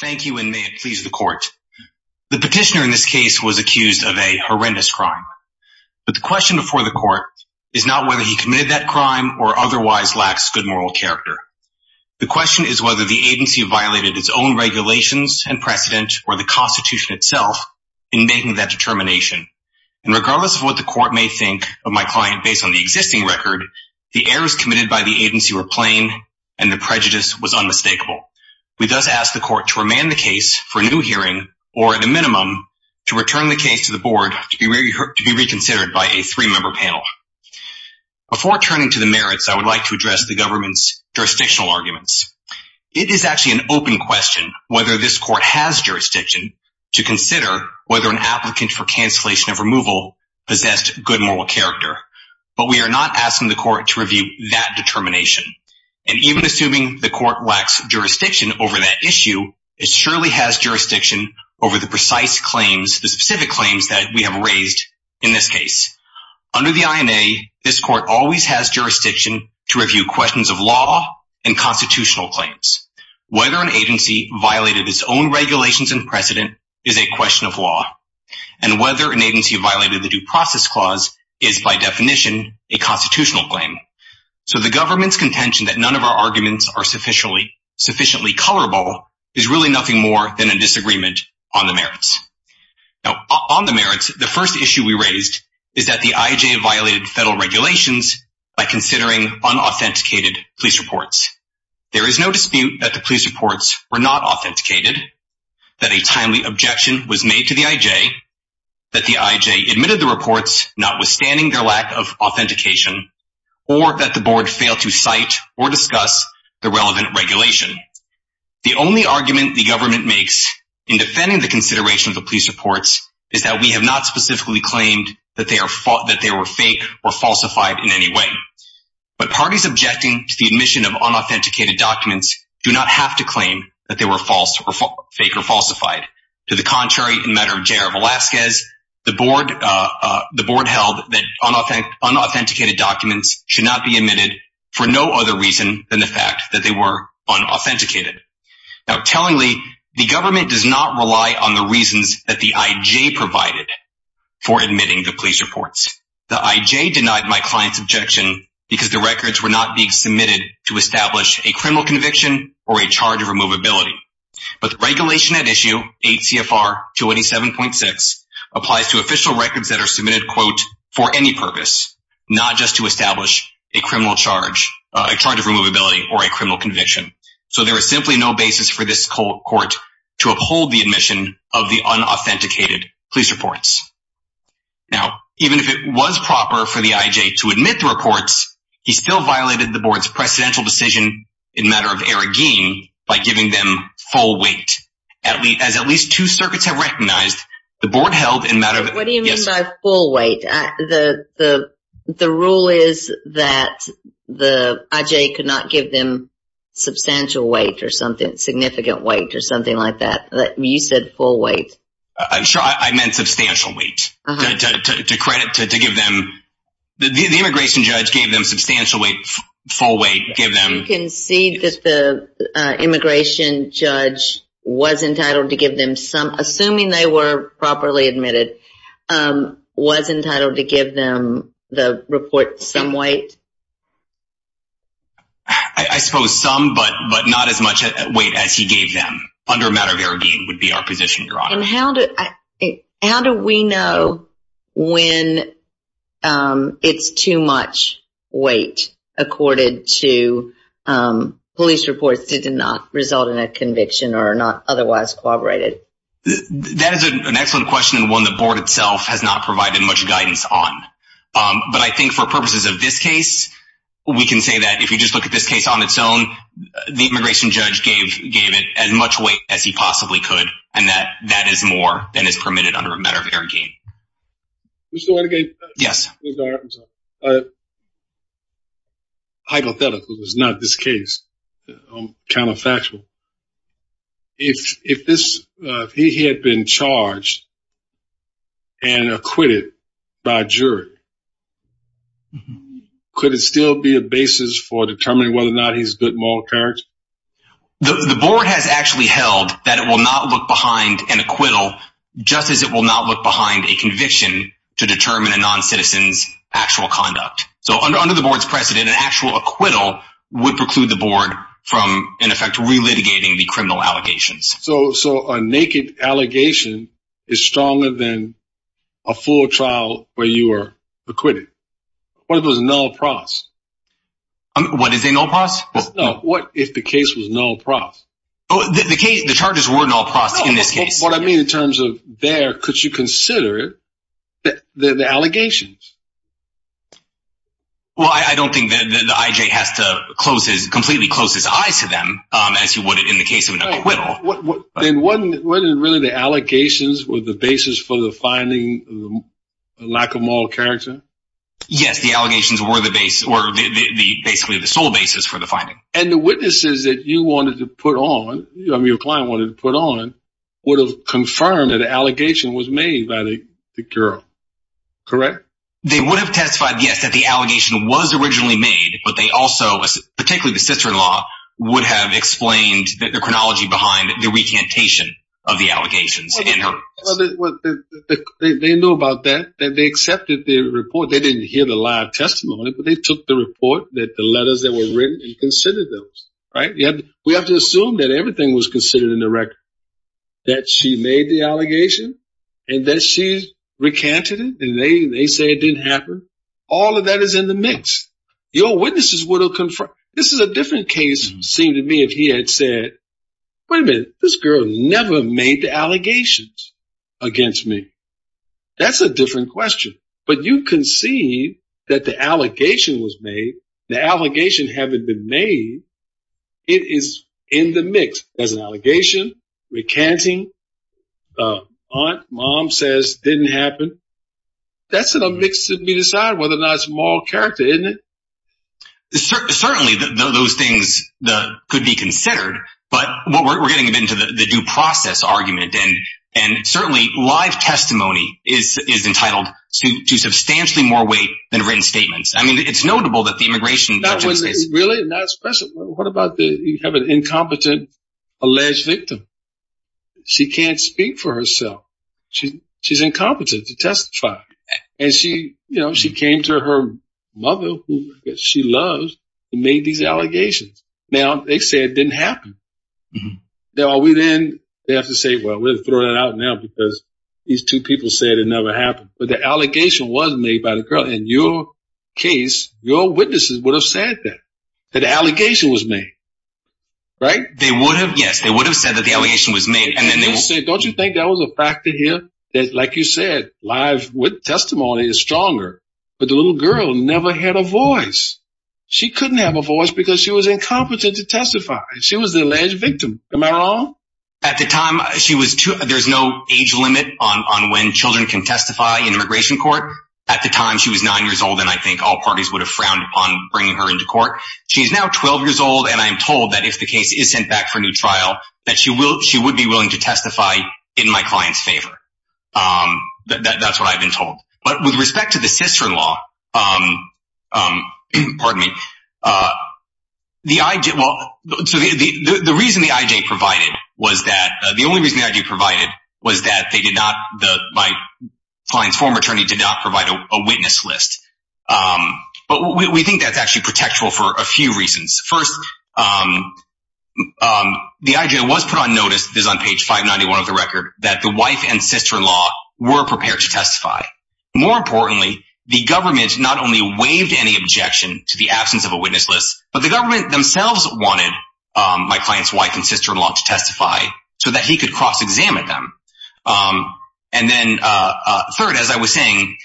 Thank you and may it please the court. The petitioner in this case was accused of a horrendous crime. But the question before the court is not whether he committed that crime or otherwise lacks good moral character. The question is whether the agency violated its own regulations and precedent or the Constitution itself in making that determination. And regardless of what the court may think of my client based on the existing record, the errors committed by the agency were to remand the case for new hearing or the minimum to return the case to the board to be reconsidered by a three-member panel. Before turning to the merits, I would like to address the government's jurisdictional arguments. It is actually an open question whether this court has jurisdiction to consider whether an applicant for cancellation of removal possessed good moral character. But we are not asking the court to review that determination. And even assuming the court lacks jurisdiction over that issue, it surely has jurisdiction over the precise claims, the specific claims that we have raised in this case. Under the INA, this court always has jurisdiction to review questions of law and constitutional claims. Whether an agency violated its own regulations and precedent is a question of law. And whether an agency violated the due process clause is by definition a constitutional claim. So the government's contention that none of our sufficiently colorable is really nothing more than a disagreement on the merits. Now, on the merits, the first issue we raised is that the IJ violated federal regulations by considering unauthenticated police reports. There is no dispute that the police reports were not authenticated, that a timely objection was made to the IJ, that the IJ admitted the reports, notwithstanding their lack of authentication, or that the board failed to cite or discuss the relevant regulation. The only argument the government makes in defending the consideration of the police reports is that we have not specifically claimed that they were fake or falsified in any way. But parties objecting to the admission of unauthenticated documents do not have to claim that they were false or fake or falsified. To the contrary, in matter of JR Velasquez, the board held that unauthenticated documents should not be admitted for no other reason than the fact that they were unauthenticated. Now, tellingly, the government does not rely on the reasons that the IJ provided for admitting the police reports. The IJ denied my client's objection because the records were not being submitted to establish a criminal conviction or a charge of removability. But the regulation at issue, 8 CFR 287.6, applies to official records that are submitted, quote, for any purpose, not just to establish a criminal charge, a charge of removability, or a criminal conviction. So there is simply no basis for this court to uphold the admission of the unauthenticated police reports. Now, even if it was proper for the IJ to admit the reports, he still violated the board's precedential decision in matter of Aragin by giving them full weight. As at least two circuits have recognized, the board held in matter of... What do you mean by full weight? The rule is that the IJ could not give them substantial weight or something, significant weight or something like that. You said full weight. I'm sure I meant substantial weight to credit, to give them... The immigration judge gave them substantial weight, full weight, gave them... You concede that the immigration judge was entitled to give them some, assuming they were properly admitted, was entitled to give them the report some weight? I suppose some, but not as much weight as he gave them under matter of Aragin would be our And how do we know when it's too much weight according to police reports that did not result in a conviction or are not otherwise corroborated? That is an excellent question and one the board itself has not provided much guidance on. But I think for purposes of this case, we can say that if you just look at this case on its own, the immigration judge gave it as much weight as he that is more than is permitted under a matter of Aragin. Mr. Watergate? Yes. Hypothetically, it's not this case. I'm counterfactual. If he had been charged and acquitted by jury, could it still be a basis for determining whether or not he's good moral courage? The board has actually held that it will not look behind an acquittal just as it will not look behind a conviction to determine a non-citizen's actual conduct. So under the board's precedent, an actual acquittal would preclude the board from, in effect, relitigating the criminal allegations. So a naked allegation is stronger than a full trial where you are acquitted. What if it was null pros? What is a null pros? No, what if the case was null pros? Oh, the charges were null pros in this case. What I mean in terms of there, could you consider it the allegations? Well, I don't think that the IJ has to completely close his eyes to them as you would in the case of an acquittal. Then wasn't it really the allegations were the basis for the finding of the lack of moral character? Yes, the allegations were basically the sole basis for the finding. And the witnesses that you wanted to put on, your client wanted to put on, would have confirmed that the allegation was made by the girl, correct? They would have testified, yes, that the allegation was originally made, but they also, particularly the sister-in-law, would have explained the chronology behind the recantation of the allegations. Well, they knew about that, that they accepted the report. They didn't hear the live testimony, but they took the report that the letters that were written and considered those, right? We have to assume that everything was considered in the record, that she made the allegation and that she recanted it and they say it didn't happen. All of that is in the mix. Your witnesses would have confirmed. This is a different case, seemed to me, if he had said, wait a minute, this girl never made the allegations against me. That's a different question. But you can see that the allegation was made, the allegation having been made, it is in the mix. There's an allegation, recanting, aunt, mom says didn't happen. That's in a mix to be decided whether or not it's moral character, isn't it? It's certainly those things that could be considered, but we're getting into the due process argument. And certainly live testimony is entitled to substantially more weight than written statements. I mean, it's notable that the immigration. What about you have an incompetent alleged victim? She can't speak for herself. She's incompetent to testify. And she, you know, she came to her mother who she loves and made these allegations. Now they say it didn't happen. Are we then they have to say, well, we'll throw that out now because these two people said it never happened. But the allegation was made by the girl. In your case, your witnesses would have said that that allegation was made, right? They would have. Yes, they would have said that the allegation was made. Don't you think that was a factor here that, like you said, live with testimony is stronger, but the little girl never had a voice. She couldn't have a voice because she was incompetent to testify. She was the alleged victim. Am I wrong? At the time she was too. There's no age limit on when children can testify in immigration court. At the time she was nine years old, and I think all parties would have frowned upon bringing her into court. She's now 12 years old. And I'm told that if the case is sent back for new trial, that she would be willing to testify in my client's favor. That's what I've been told. But with respect to the sister-in-law, the reason the IJ provided was that they did not, my client's former attorney did not provide a witness list. But we think that's actually protectful for a few reasons. First, the IJ was put on notice, this is on page 591 of the record, that the wife and sister-in-law were prepared to testify. More importantly, the government not only waived any objection to the absence of a witness list, but the government themselves wanted my client's wife and sister-in-law to testify so that he could cross-examine them. And then third, as I was saying,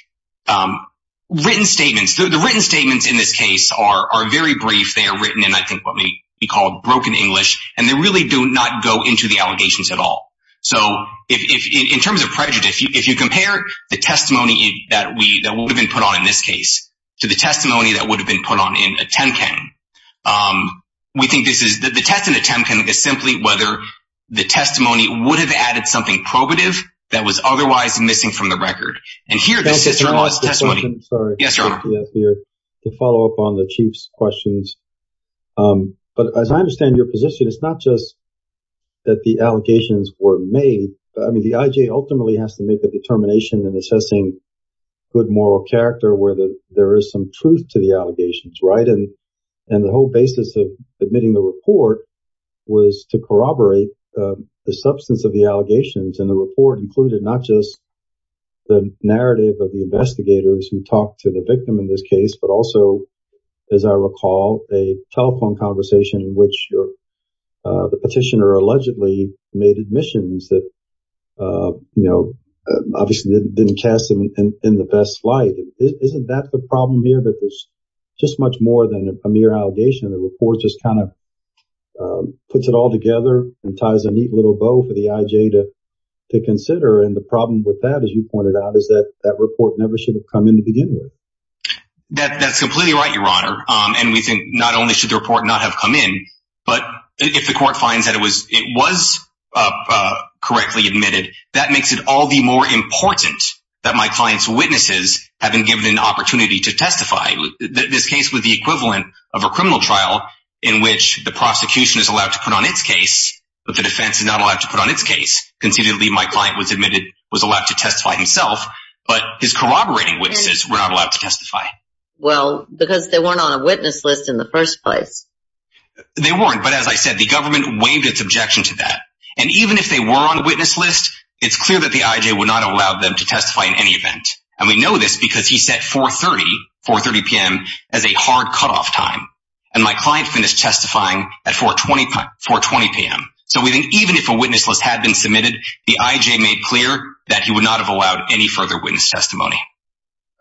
written statements, the written statements in this are very brief. They are written in, I think, what may be called broken English, and they really do not go into the allegations at all. So in terms of prejudice, if you compare the testimony that would have been put on in this case to the testimony that would have been put on in a Temkang, we think the test in a Temkang is simply whether the testimony would have added something probative that was otherwise missing from the record. And here the sister-in-law's testimony. I'm sorry to follow up on the Chief's questions. But as I understand your position, it's not just that the allegations were made. I mean, the IJ ultimately has to make a determination in assessing good moral character, whether there is some truth to the allegations, right? And the whole basis of submitting the report was to corroborate the substance of the allegations. And the report included not just the narrative of the investigators who talked to the victim in this case, but also, as I recall, a telephone conversation in which the petitioner allegedly made admissions that, you know, obviously didn't cast them in the best light. Isn't that the problem here, that there's just much more than a mere allegation? The report just kind of puts it all together and ties a neat little bow for the IJ to consider. And the problem with that, as you pointed out, is that that report never should have come in to begin with. That's completely right, Your Honor. And we think not only should the report not have come in, but if the court finds that it was correctly admitted, that makes it all the more important that my client's witnesses have been given an opportunity to testify. This case was the equivalent of a criminal trial in which the prosecution is allowed to put on its case, but the defense is not allowed to put on its case. Considerably, my client was admitted, was allowed to testify himself, but his corroborating witnesses were not allowed to testify. Well, because they weren't on a witness list in the first place. They weren't. But as I said, the government waived its objection to that. And even if they were on a witness list, it's clear that the IJ would not allow them to testify in any event. And we know this because he set 4.30, 4.30 p.m. as a hard cutoff time. And my client finished testifying at 4.20 p.m. So we think even if a witness list had been submitted, the IJ made clear that he would not have allowed any further witness testimony.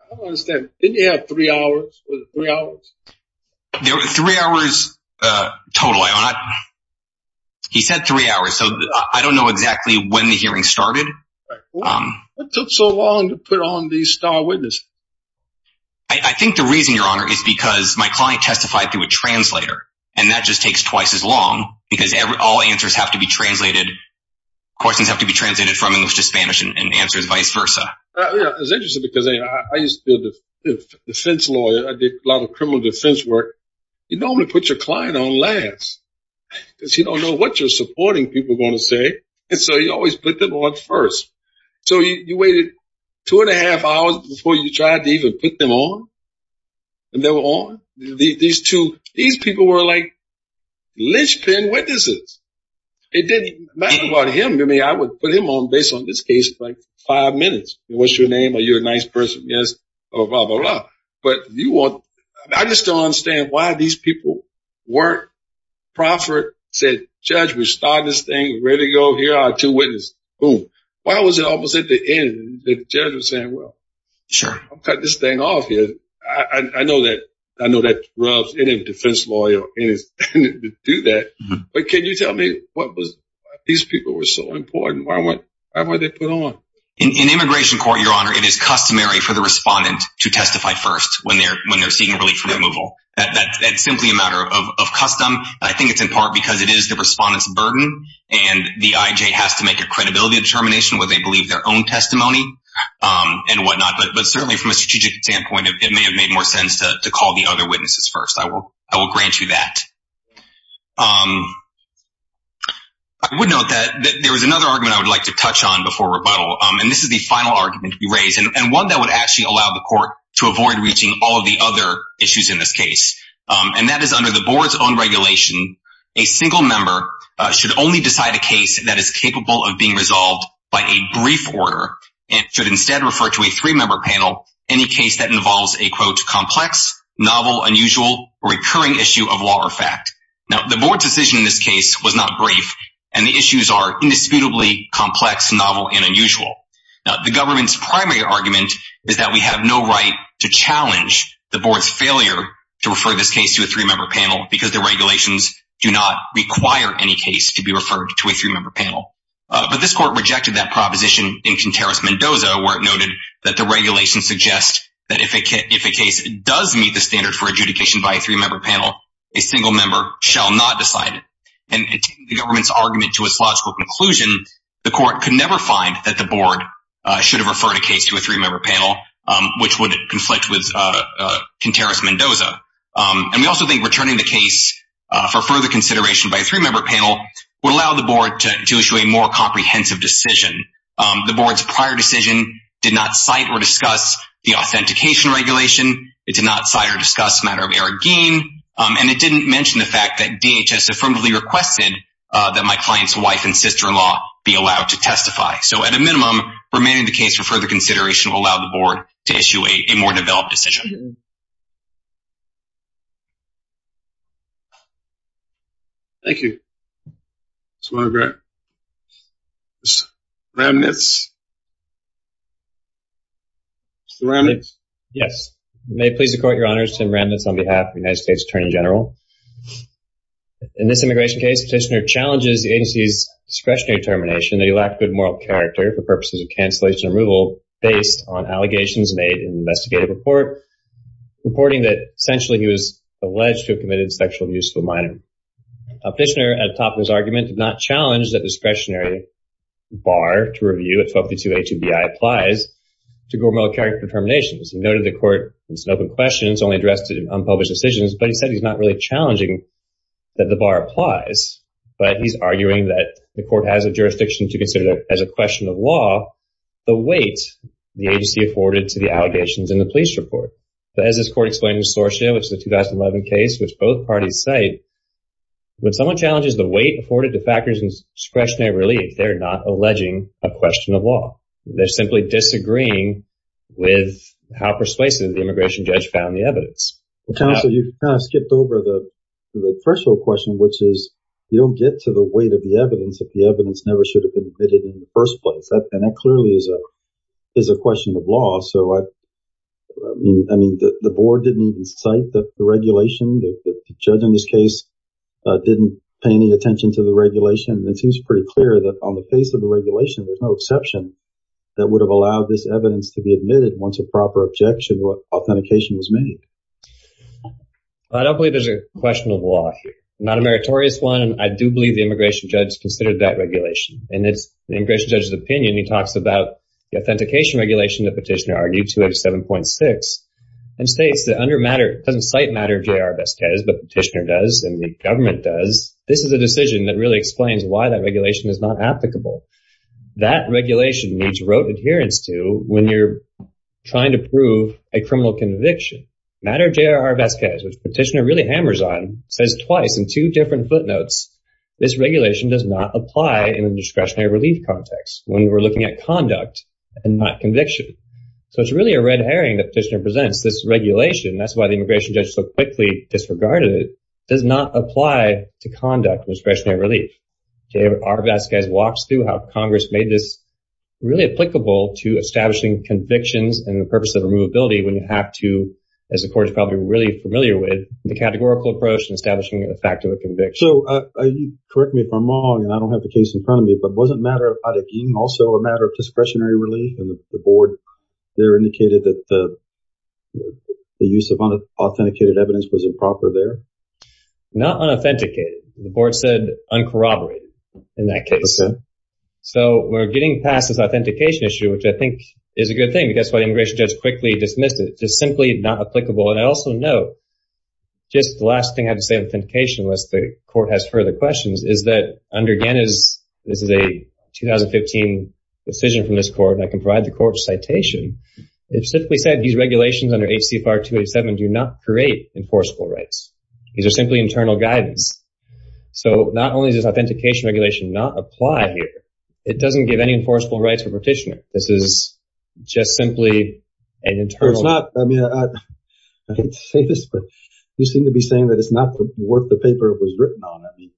I don't understand. Didn't he have three hours? Was it three hours? There were three hours total, Your Honor. He said three hours. So I don't know exactly when the hearing started. What took so long to put on these star witnesses? I think the reason, Your Honor, is because my client testified through a translator. And that just takes twice as long because all answers have to be translated. Questions have to be translated from English to Spanish and answers vice versa. It's interesting because I used to be a defense lawyer. I did a lot of criminal defense work. You normally put your client on last because you don't know what you're supporting people are going to say. And so you always put them on first. So you waited two and a half hours before you tried to even put them on. And they were on. These two, these people were like linchpin witnesses. It didn't matter about him to me. I would put him on based on this case, like five minutes. What's your name? Are you a nice person? Yes. Oh, blah, blah, blah. But you want, I just don't understand why these people work. Proffitt said, Judge, we start this thing. Ready to go. Here are two witnesses. Boom. Why was it almost at the end? The judge was saying, well, sure, I've got this thing off here. I know that. I know that rubs any defense lawyer to do that. But can you tell me what was these people were so important? Why were they put on? In immigration court, your honor, it is customary for the respondent to testify first when they're when they're seeking relief from removal. That's simply a matter of custom. I think it's in part because it is the respondents burden and the IJ has to make a credibility determination where they believe their own testimony and whatnot. But certainly from a strategic standpoint, it may have made more sense to call the other witnesses first. I will. I will grant you that. I would note that there was another argument I would like to touch on before rebuttal. And this is the final argument to be raised and one that would actually allow the court to avoid reaching all of the other issues in this case. And that is under the board's own regulation. A single member should only decide a case that is capable of being resolved by a brief order and should instead refer to a three member panel. Any case that involves a quote, complex, novel, unusual, recurring issue of law or fact. Now, the board's decision in this case was not brief and the issues are indisputably complex, novel and unusual. Now, the government's primary argument is that we have no right to challenge the board's because the regulations do not require any case to be referred to a three member panel. But this court rejected that proposition in Contreras-Mendoza, where it noted that the regulations suggest that if a case does meet the standard for adjudication by a three member panel, a single member shall not decide it. And the government's argument to its logical conclusion, the court could never find that the board should have referred a case to a three member panel, which would conflict with Contreras-Mendoza. And we also think returning the case for further consideration by a three member panel would allow the board to issue a more comprehensive decision. The board's prior decision did not cite or discuss the authentication regulation. It did not cite or discuss matter of error gain. And it didn't mention the fact that DHS affirmatively requested that my client's wife and sister-in-law be allowed to testify. So at a minimum, remaining the case for further consideration will allow the board to issue a more developed decision. Thank you. Mr. Monaghan. Mr. Ramnitz. Mr. Ramnitz. Yes. May it please the court, your honors, Tim Ramnitz on behalf of the United States Attorney General. In this immigration case, Petitioner challenges the agency's discretionary determination that he lacked good moral character for purposes of cancellation and removal based on allegations made in the investigative report, reporting that essentially he was alleged to have committed sexual abuse to a minor. Petitioner, at the top of his argument, did not challenge that discretionary bar to review at 1232A2BI applies to good moral character determinations. He noted the court, it's an open question, it's only addressed to unpublished decisions, but he said he's not really challenging that the bar applies. But he's arguing that the court has a jurisdiction to consider that as a question of law, the agency afforded to the allegations in the police report. As this court explained in Sorcia, which is a 2011 case, which both parties cite, when someone challenges the weight afforded to factors in discretionary relief, they're not alleging a question of law. They're simply disagreeing with how persuasive the immigration judge found the evidence. Counsel, you kind of skipped over the threshold question, which is you don't get to the weight of the evidence if the evidence never should have been admitted in the first place. And that clearly is a question of law. So, I mean, the board didn't even cite the regulation. The judge in this case didn't pay any attention to the regulation. It seems pretty clear that on the face of the regulation, there's no exception that would have allowed this evidence to be admitted once a proper objection or authentication was made. I don't believe there's a question of law here, not a meritorious one. I do believe the immigration judge considered that regulation. And in the immigration judge's opinion, he talks about the authentication regulation that Petitioner argued to have 7.6 and states that it doesn't cite matter J.R. Vazquez, but Petitioner does and the government does. This is a decision that really explains why that regulation is not applicable. That regulation needs rote adherence to when you're trying to prove a criminal conviction. Matter J.R. Vazquez, which Petitioner really hammers on, says twice in two different footnotes, this regulation does not apply in a discretionary relief context when we're looking at conduct and not conviction. So it's really a red herring that Petitioner presents. This regulation, that's why the immigration judge so quickly disregarded it, does not apply to conduct discretionary relief. J.R. Vazquez walks through how Congress made this really applicable to establishing convictions and the purpose of removability when you have to, as the court is probably really familiar with, the categorical approach and establishing the fact of a conviction. So correct me if I'm wrong and I don't have the case in front of me, but wasn't matter of ad hoc also a matter of discretionary relief and the board there indicated that the use of unauthenticated evidence was improper there? Not unauthenticated. The board said uncorroborated in that case. So we're getting past this authentication issue, which I think is a good thing. That's why the immigration judge quickly dismissed it. It's just simply not applicable. And I also note, just the last thing I have to say on authentication, unless the court has further questions, is that under Gannis, this is a 2015 decision from this court, and I can provide the court a citation. It specifically said these regulations under H.C. FAR 287 do not create enforceable rights. These are simply internal guidance. So not only does authentication regulation not apply here, it doesn't give any enforceable rights for Petitioner. This is just simply an internal. I mean, I hate to say this, but you seem to be saying that it's not worth the paper it was written on. I mean,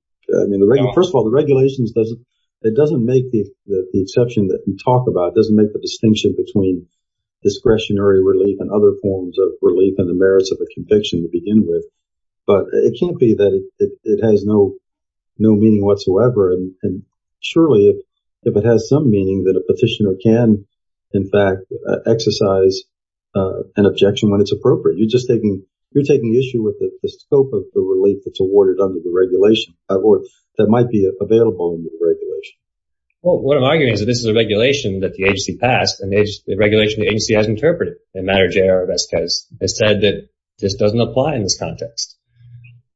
first of all, the regulations doesn't, it doesn't make the exception that you talk about, doesn't make the distinction between discretionary relief and other forms of relief and the merits of a conviction to begin with. But it can't be that it has no meaning whatsoever. And surely, if it has some meaning, that a Petitioner can, in fact, exercise an objection when it's appropriate. You're just taking, you're taking issue with the scope of the relief that's awarded under the regulation, or that might be available under the regulation. Well, what I'm arguing is that this is a regulation that the agency passed, and it's a regulation the agency has interpreted. And MatterJR has said that this doesn't apply in this context.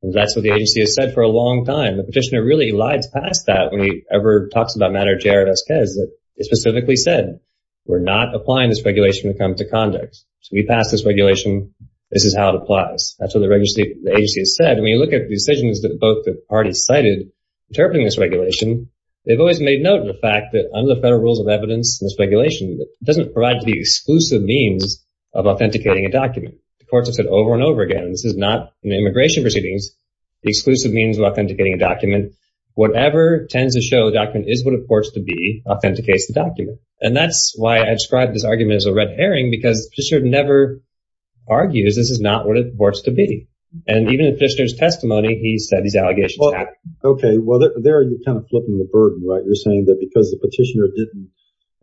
And that's what the agency has said for a long time. The Petitioner really elides past that when he ever talks about MatterJR and Esquez that it specifically said, we're not applying this regulation to come to conduct. So we passed this regulation. This is how it applies. That's what the agency has said. And when you look at the decisions that both the parties cited interpreting this regulation, they've always made note of the fact that under the federal rules of evidence in this regulation, it doesn't provide the exclusive means of authenticating a document. The courts have said over and over again, this is not an immigration proceedings, the Whatever tends to show a document is what it purports to be, authenticates the document. And that's why I described this argument as a red herring, because the Petitioner never argues this is not what it purports to be. And even in the Petitioner's testimony, he said these allegations happen. Okay. Well, there you're kind of flipping the burden, right? You're saying that because the Petitioner didn't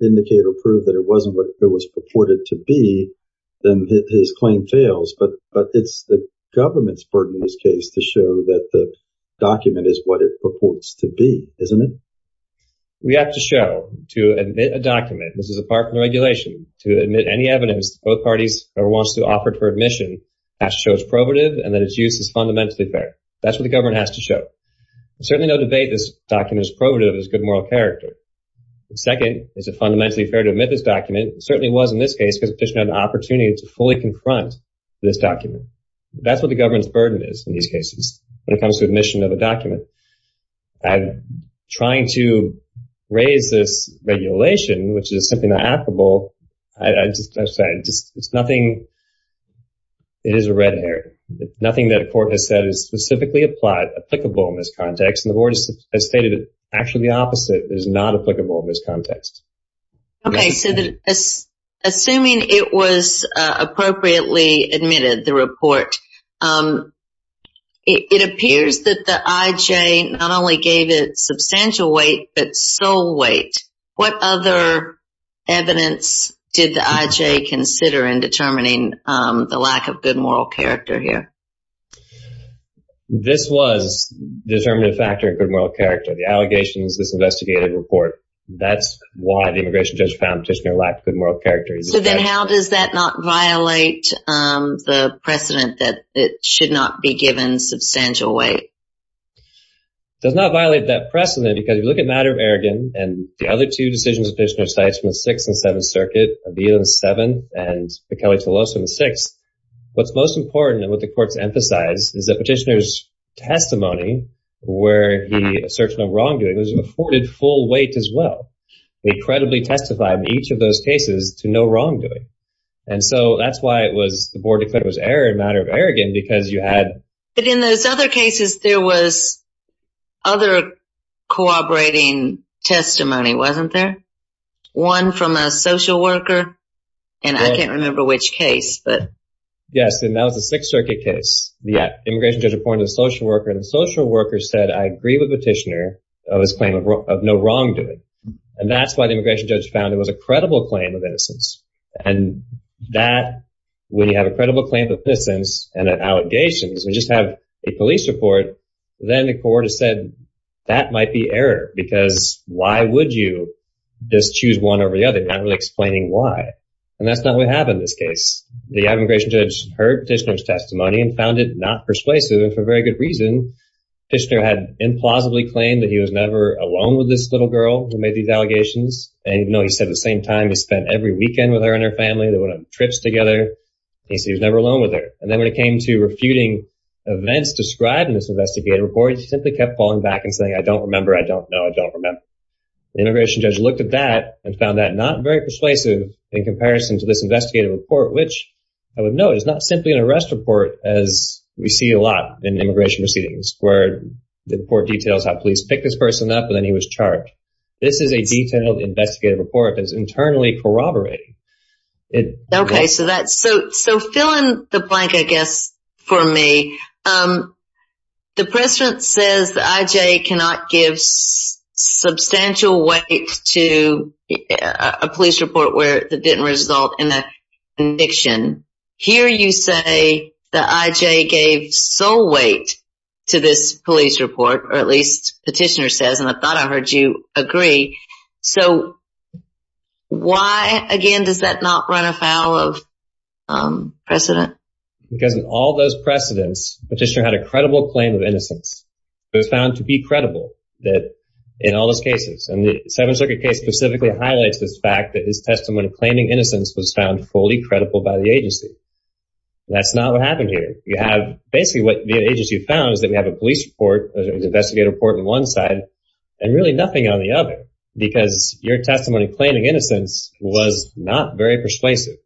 indicate or prove that it wasn't what it was purported to be, then his claim fails, but it's the government's burden in this case to show that the document is what it purports to be, isn't it? We have to show, to admit a document, this is a part of the regulation, to admit any evidence that both parties ever wants to offer it for admission, has to show it's probative and that its use is fundamentally fair. That's what the government has to show. Certainly no debate this document is probative, it has good moral character. Second, is it fundamentally fair to admit this document? It certainly was in this case, because the Petitioner had an opportunity to fully confront this document. That's what the government's burden is in these cases, when it comes to admission of a document. I'm trying to raise this regulation, which is simply not applicable. I'm sorry, it's nothing, it is a red herring. Nothing that a court has said is specifically applicable in this context. And the board has stated that actually the opposite is not applicable in this context. Okay, so assuming it was appropriately admitted, the report, it appears that the I.J. not only gave it substantial weight, but sole weight. What other evidence did the I.J. consider in determining the lack of good moral character here? This was a determinative factor in good moral character. The allegations, this investigative report, that's why the immigration judge found Petitioner lacked good moral character. So then how does that not violate the precedent that it should not be given substantial weight? It does not violate that precedent, because if you look at Matter of Arrogance and the other two decisions Petitioner cites from the Sixth and Seventh Circuit, Avila and Seventh, and McKellie-Toloso in the Sixth, what's most important and what the courts emphasize is Petitioner's testimony where he asserts no wrongdoing was afforded full weight as well. They credibly testified in each of those cases to no wrongdoing. And so that's why the board declared it was error in Matter of Arrogance, because you had... But in those other cases, there was other cooperating testimony, wasn't there? One from a social worker, and I can't remember which case, but... Yes, and that was the Sixth Circuit case. The immigration judge reported to the social worker, and the social worker said, I agree with Petitioner of his claim of no wrongdoing. And that's why the immigration judge found it was a credible claim of innocence. And that, when you have a credible claim of innocence and allegations, we just have a police report, then the court has said that might be error, because why would you just choose one over the other, not really explaining why? And that's not what happened in this case. The immigration judge heard Petitioner's testimony and found it not persuasive, and for very good reason. Petitioner had implausibly claimed that he was never alone with this little girl who made these allegations. And even though he said at the same time he spent every weekend with her and her family, they went on trips together, he said he was never alone with her. And then when it came to refuting events described in this investigative report, he simply kept falling back and saying, I don't remember. I don't know. I don't remember. The immigration judge looked at that and found that not very persuasive in comparison to this investigative report, which I would note is not simply an arrest report, as we see a lot in immigration proceedings, where the report details how police picked this person up and then he was charged. This is a detailed investigative report that's internally corroborating. Okay, so fill in the blank, I guess, for me. Um, the precedent says the IJ cannot give substantial weight to a police report where it didn't result in a conviction. Here you say the IJ gave sole weight to this police report, or at least Petitioner says, and I thought I heard you agree. So why, again, does that not run afoul of precedent? Because of all those precedents, Petitioner had a credible claim of innocence. It was found to be credible that in all those cases, and the Seventh Circuit case specifically highlights this fact that his testimony claiming innocence was found fully credible by the agency. That's not what happened here. You have basically what the agency found is that we have a police report, an investigative report on one side, and really nothing on the other, because your testimony claiming innocence was not very persuasive.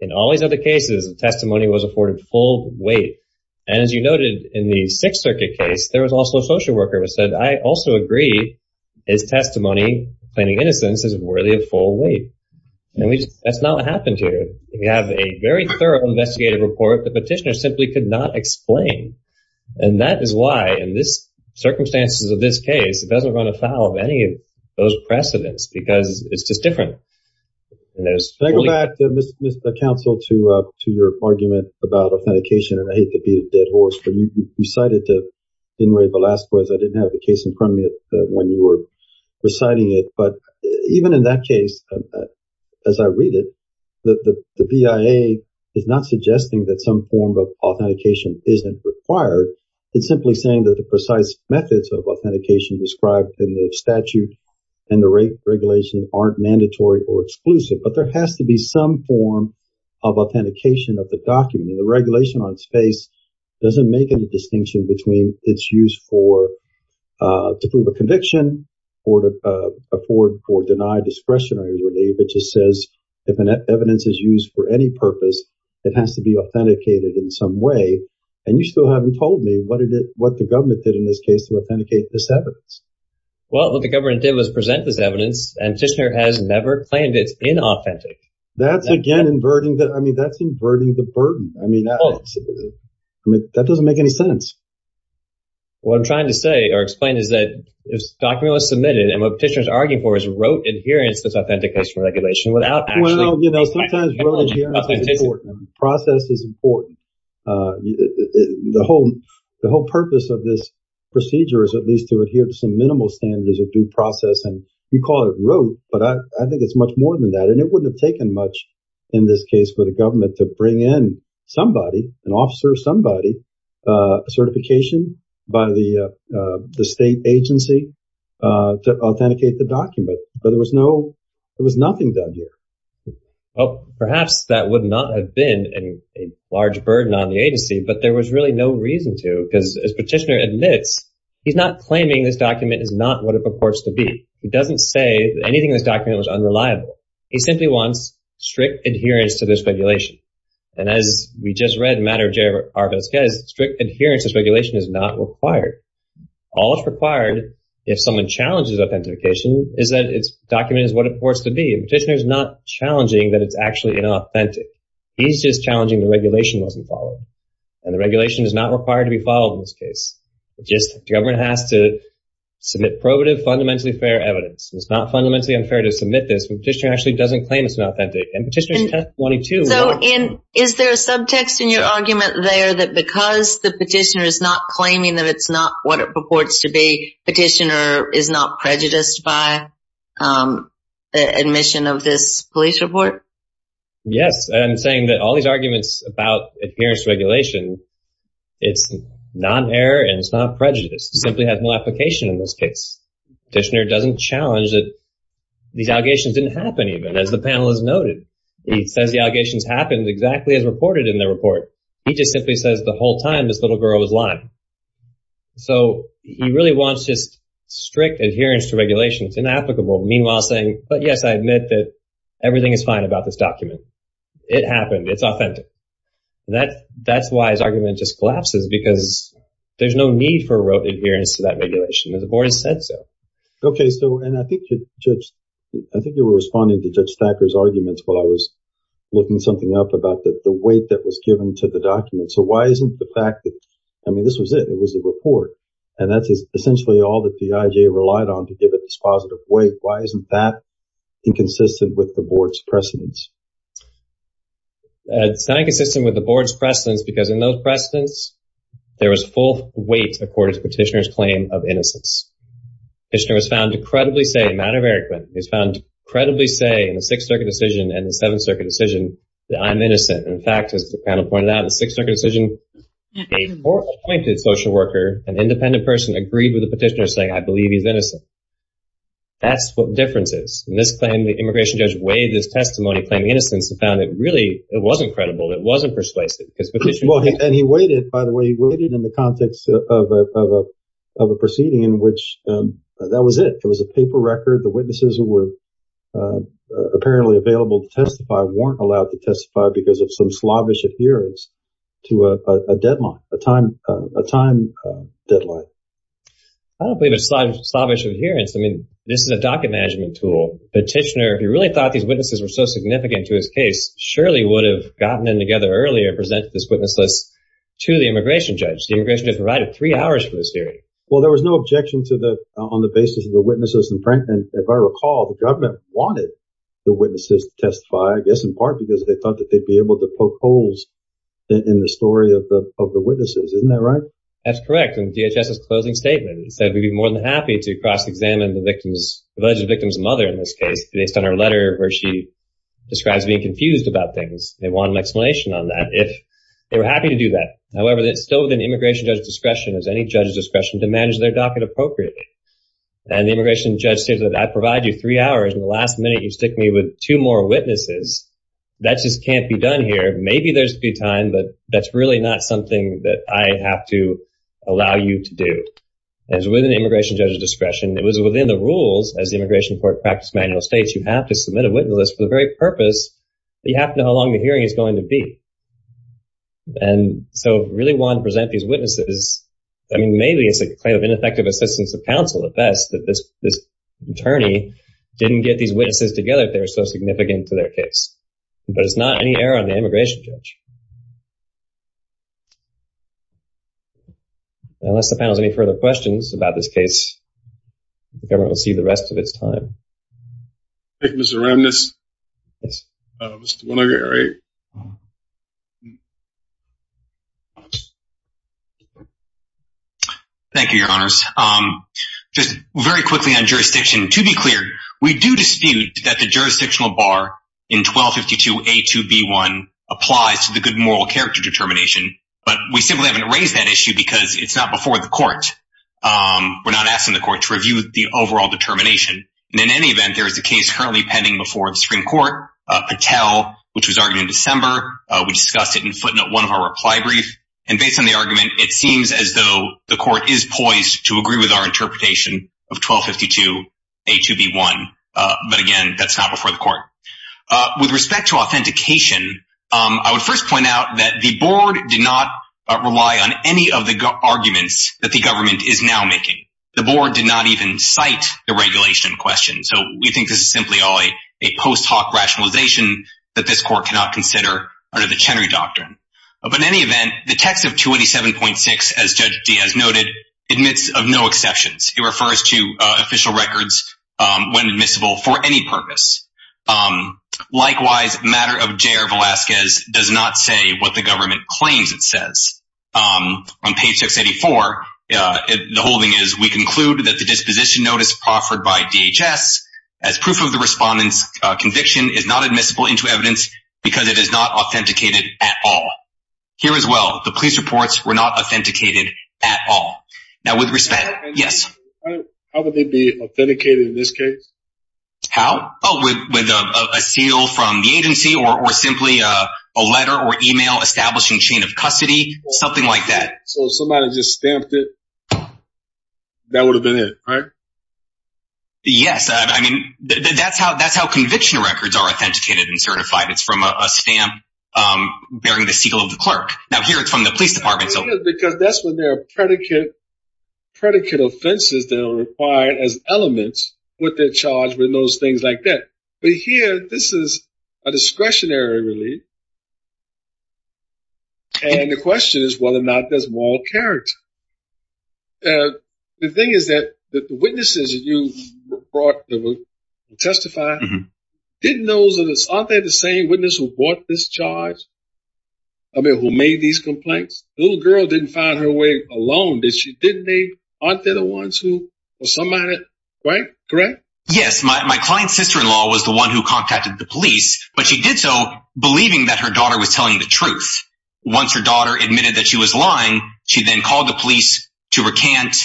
In all these other cases, the testimony was afforded full weight. And as you noted, in the Sixth Circuit case, there was also a social worker who said, I also agree his testimony claiming innocence is worthy of full weight. And we just, that's not what happened here. If you have a very thorough investigative report, the Petitioner simply could not explain. And that is why, in this circumstances of this case, it doesn't run afoul of any of those precedents, because it's just different. Can I go back, Mr. Counsel, to your argument about authentication? And I hate to beat a dead horse, but you cited to Enrique Velasquez, I didn't have the case in front of me when you were reciting it. But even in that case, as I read it, the BIA is not suggesting that some form of authentication isn't required. It's simply saying that the precise methods of authentication described in the statute and the regulations aren't mandatory or exclusive. But there has to be some form of authentication of the document. And the regulation on space doesn't make any distinction between its use for, to prove a conviction or to afford or deny discretionary relief. It just says, if an evidence is used for any purpose, it has to be authenticated in some way. And you still haven't told me what the government did in this case to authenticate this evidence. Well, what the government did was present this evidence, and Tishner has never claimed it's inauthentic. That's again, inverting the, I mean, that's inverting the burden. I mean, that doesn't make any sense. What I'm trying to say or explain is that this document was submitted, and what Tishner is arguing for is rote adherence to this authentication regulation. Well, you know, sometimes rote adherence is important. Process is important. The whole purpose of this procedure is at least to adhere to some minimal standards of due process. And you call it rote, but I think it's much more than that. And it wouldn't have taken much in this case for the government to bring in somebody, an officer, somebody, a certification by the state agency to authenticate the document. But there was no, there was nothing done here. Well, perhaps that would not have been a large burden on the agency, but there was really no reason to, because as Petitioner admits, he's not claiming this document is not what it purports to be. He doesn't say anything in this document was unreliable. He simply wants strict adherence to this regulation. And as we just read in the matter of J.R. Vazquez, strict adherence to this regulation is not required. All that's required if someone challenges authentication is that its document is what it purports to be. Petitioner's not challenging that it's actually inauthentic. He's just challenging the regulation wasn't followed. And the regulation is not required to be followed in this case. It's just the government has to submit probative, fundamentally fair evidence. It's not fundamentally unfair to submit this, but Petitioner actually doesn't claim it's inauthentic. And Petitioner's 1022. So is there a subtext in your argument there that because the Petitioner is not claiming that it's not what it purports to be, Petitioner is not prejudiced by admission of this police report? Yes. And I'm saying that all these arguments about adherence to regulation, it's non-error and it's not prejudice. It simply has no application in this case. Petitioner doesn't challenge that these allegations didn't happen even, as the panel has noted. He says the allegations happened exactly as reported in the report. He just simply says the whole time this little girl was lying. So he really wants just strict adherence to regulation. It's inapplicable. Meanwhile, saying, but yes, I admit that everything is fine about this document. It happened. It's authentic. That's why his argument just collapses, because there's no need for adherence to that regulation. The board has said so. Okay. So, and I think, Judge, I think you were responding to Judge Thacker's arguments while I was looking something up about the weight that was given to the document. So why isn't the fact that, I mean, this was it. It was a report. And that's essentially all that the IJ relied on to give it this positive weight. Why isn't that inconsistent with the board's precedence? It's not inconsistent with the board's precedence, because in those precedents, there was full weight according to Petitioner's claim of innocence. Petitioner was found to credibly say, a matter of argument, he was found to credibly say in the Sixth Circuit decision and the Seventh Circuit decision that I'm innocent. In fact, as the panel pointed out in the Sixth Circuit decision, a four-appointed social worker, an independent person agreed with the petitioner saying, I believe he's innocent. That's what the difference is. In this claim, the immigration judge weighed this testimony, claiming innocence, and found it really, it wasn't credible. It wasn't persuasive, because Petitioner- Well, and he weighed it, by the way, he weighed it in the context of a proceeding in which that was it. It was a paper record. The witnesses who were apparently available to testify weren't allowed to testify because of some slavish adherence to a deadline, a time deadline. I don't believe it's slavish adherence. I mean, this is a docket management tool. Petitioner, if he really thought these witnesses were so significant to his case, surely would have gotten them together earlier and presented this witness list to the immigration judge. The immigration judge provided three hours for this hearing. Well, there was no objection to the, on the basis of the witnesses. And frankly, if I recall, the government wanted the witnesses to testify, I guess, in part because they thought that they'd be able to poke holes in the story of the witnesses. Isn't that right? That's correct. And DHS's closing statement said, we'd be more than happy to cross-examine the victim's, alleged victim's mother in this case, based on her letter where she describes being confused about things. They wanted an explanation on that if they were happy to do that. However, it's still within immigration judge discretion, as any judge's discretion, to manage their docket appropriately. And the immigration judge said, I provide you three hours, and the last minute you stick me with two more witnesses, that just can't be done here. Maybe there's a good time, but that's really not something that I have to allow you to do. As with an immigration judge's discretion, it was within the rules, as the immigration court practiced manual states, you have to submit a witness list for the very purpose that you have to know how long the hearing is going to be. And so, really wanted to present these witnesses. I mean, maybe it's a claim of ineffective assistance of counsel at best, that this attorney didn't get these witnesses together if they were so significant to their case. But it's not any error on the immigration judge. Thank you. Unless the panel has any further questions about this case, the government will see the rest of its time. Thank you, Mr. Remnitz. Yes. Thank you, your honors. Just very quickly on jurisdiction. To be clear, we do dispute that the jurisdictional bar in 1252 A2B1 applies to the good moral character determination, but we simply haven't raised that issue because it's not before the court. We're not asking the court to review the overall determination. And in any event, there is a case currently pending before the Supreme Court, Patel, which was argued in December. We discussed it in footnote one of our reply brief. And based on the argument, it seems as though the court is poised to agree with our interpretation of 1252 A2B1. But again, that's not before the court. With respect to authentication, I would first point out that the board did not rely on any of the arguments that the government is now making. The board did not even cite the regulation question. So we think this is simply all a post hoc rationalization that this court cannot consider under the Chenery Doctrine. But in any event, the text of 287.6, as Judge Diaz noted, admits of no exceptions. It refers to official records when admissible for any purpose. Likewise, matter of J.R. Velasquez does not say what the government claims it says. On page 684, the holding is, we conclude that the disposition notice proffered by DHS as proof of the respondent's conviction is not admissible into evidence because it is not authenticated at all. Here as well, the police reports were not authenticated at all. Now with respect, yes. How would they be authenticated in this case? How? Oh, with a seal from the agency or simply a letter or email establishing chain of custody, something like that. So somebody just stamped it. That would have been it, right? Yes, I mean, that's how conviction records are authenticated and certified. It's from a stamp bearing the seal of the clerk. Now here it's from the police department. Because that's when there are predicate offenses that are required as elements with their charge, with those things like that. But here, this is a discretionary relief. And the question is whether or not there's moral character. The thing is that the witnesses that you brought that would testify, didn't those, aren't they the same witness who brought this charge? I mean, who made these complaints? The little girl didn't find her way alone, did she? Didn't they? Aren't they the ones who, or somebody, right? Yes, my client's sister-in-law was the one who contacted the police, but she did so believing that her daughter was telling the truth. Once her daughter admitted that she was lying, she then called the police to recant.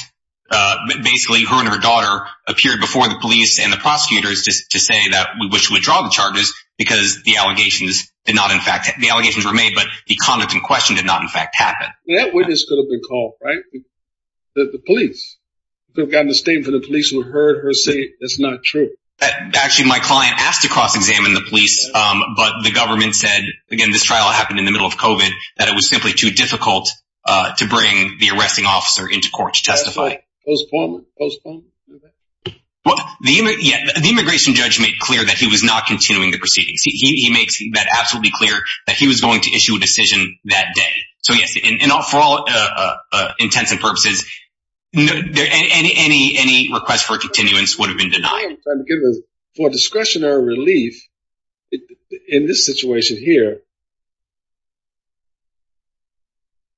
Basically, her and her daughter appeared before the police and the prosecutors to say that we wish to withdraw the charges because the allegations did not in fact, the allegations were made, but the conduct in question did not in fact happen. That witness could have been called, right? The police. They've gotten a statement from the police who heard her say it's not true. Actually, my client asked to cross-examine the police, but the government said, again, this trial happened in the middle of COVID, that it was simply too difficult to bring the arresting officer into court to testify. That's fine. Postpone it. Postpone it. Yeah, the immigration judge made clear that he was not continuing the proceedings. He makes that absolutely clear that he was going to issue a decision that day. For all intents and purposes, any request for continuance would have been denied. For discretionary relief, in this situation here,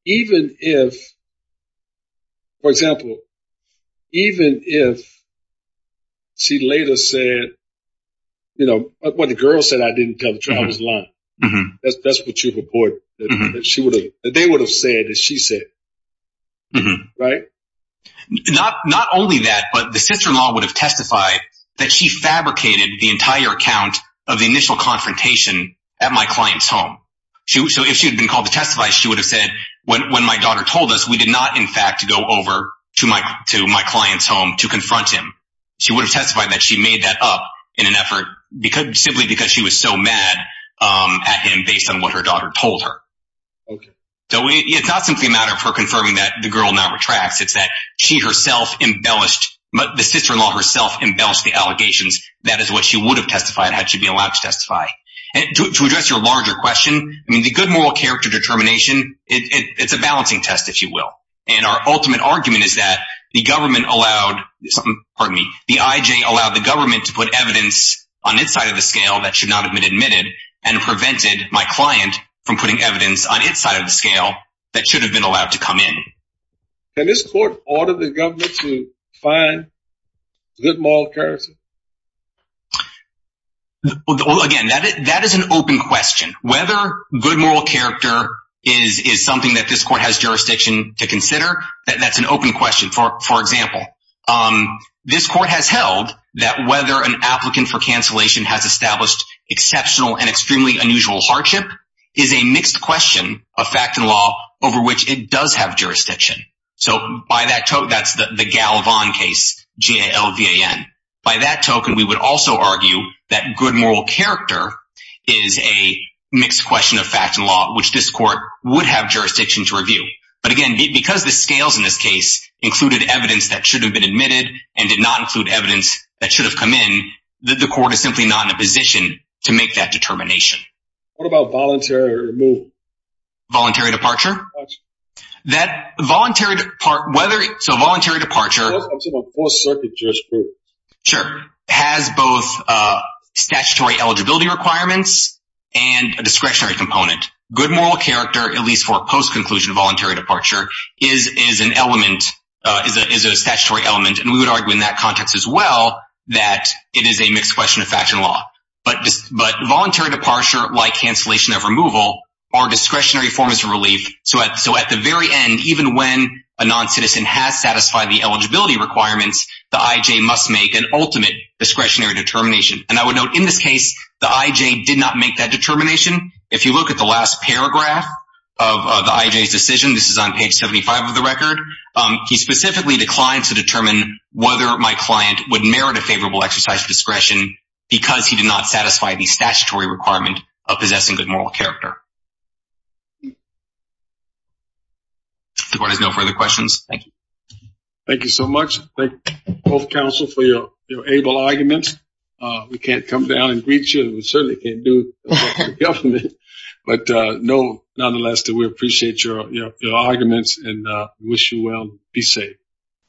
even if, for example, even if she later said, what the girl said, I didn't tell the truth, I was lying. That's what you report. They would have said that she said, right? Not only that, but the sister-in-law would have testified that she fabricated the entire account of the initial confrontation at my client's home. So if she had been called to testify, she would have said, when my daughter told us, we did not in fact go over to my client's home to confront him. She would have testified that she made that up in an effort simply because she was so mad at him based on what her daughter told her. So it's not simply a matter of her confirming that the girl now retracts. It's that she herself embellished, the sister-in-law herself embellished the allegations. That is what she would have testified, had she been allowed to testify. And to address your larger question, I mean, the good moral character determination, it's a balancing test, if you will. And our ultimate argument is that the government allowed, pardon me, the IJ allowed the government to put evidence on its side of the scale that should not have been admitted and prevented my client from putting evidence on its side of the scale that should have been allowed to come in. Can this court order the government to find good moral character? Again, that is an open question. Whether good moral character is something that this court has jurisdiction to consider, that's an open question. For example, this court has held that whether an applicant for cancellation has established exceptional and extremely unusual hardship is a mixed question of fact and law over which it does have jurisdiction. So by that, that's the Galvan case, G-A-L-V-A-N. By that token, we would also argue that good moral character is a mixed question of fact and law, which this court would have jurisdiction to review. But again, because the scales in this case included evidence that should have been admitted and did not include evidence that should have come in, the court is simply not in a position to make that determination. What about voluntary removal? Voluntary departure? So voluntary departure has both statutory eligibility requirements and a discretionary component. Good moral character, at least for post-conclusion voluntary departure, is an element, is a statutory element. And we would argue in that context as well that it is a mixed question of fact and law. But voluntary departure, like cancellation of removal, are discretionary forms of relief. So at the very end, even when a non-citizen has satisfied the eligibility requirements, the I.J. must make an ultimate discretionary determination. And I would note in this case, the I.J. did not make that determination. If you look at the last paragraph of the I.J.'s decision, this is on page 75 of the record, he specifically declined to determine whether my client would merit a favorable exercise of discretion because he did not satisfy the statutory requirement of possessing good moral character. The court has no further questions. Thank you. Thank you so much. Thank you both, counsel, for your able arguments. We can't come down and greet you. We certainly can't do that for the government. But nonetheless, we appreciate your arguments and wish you well. Be safe.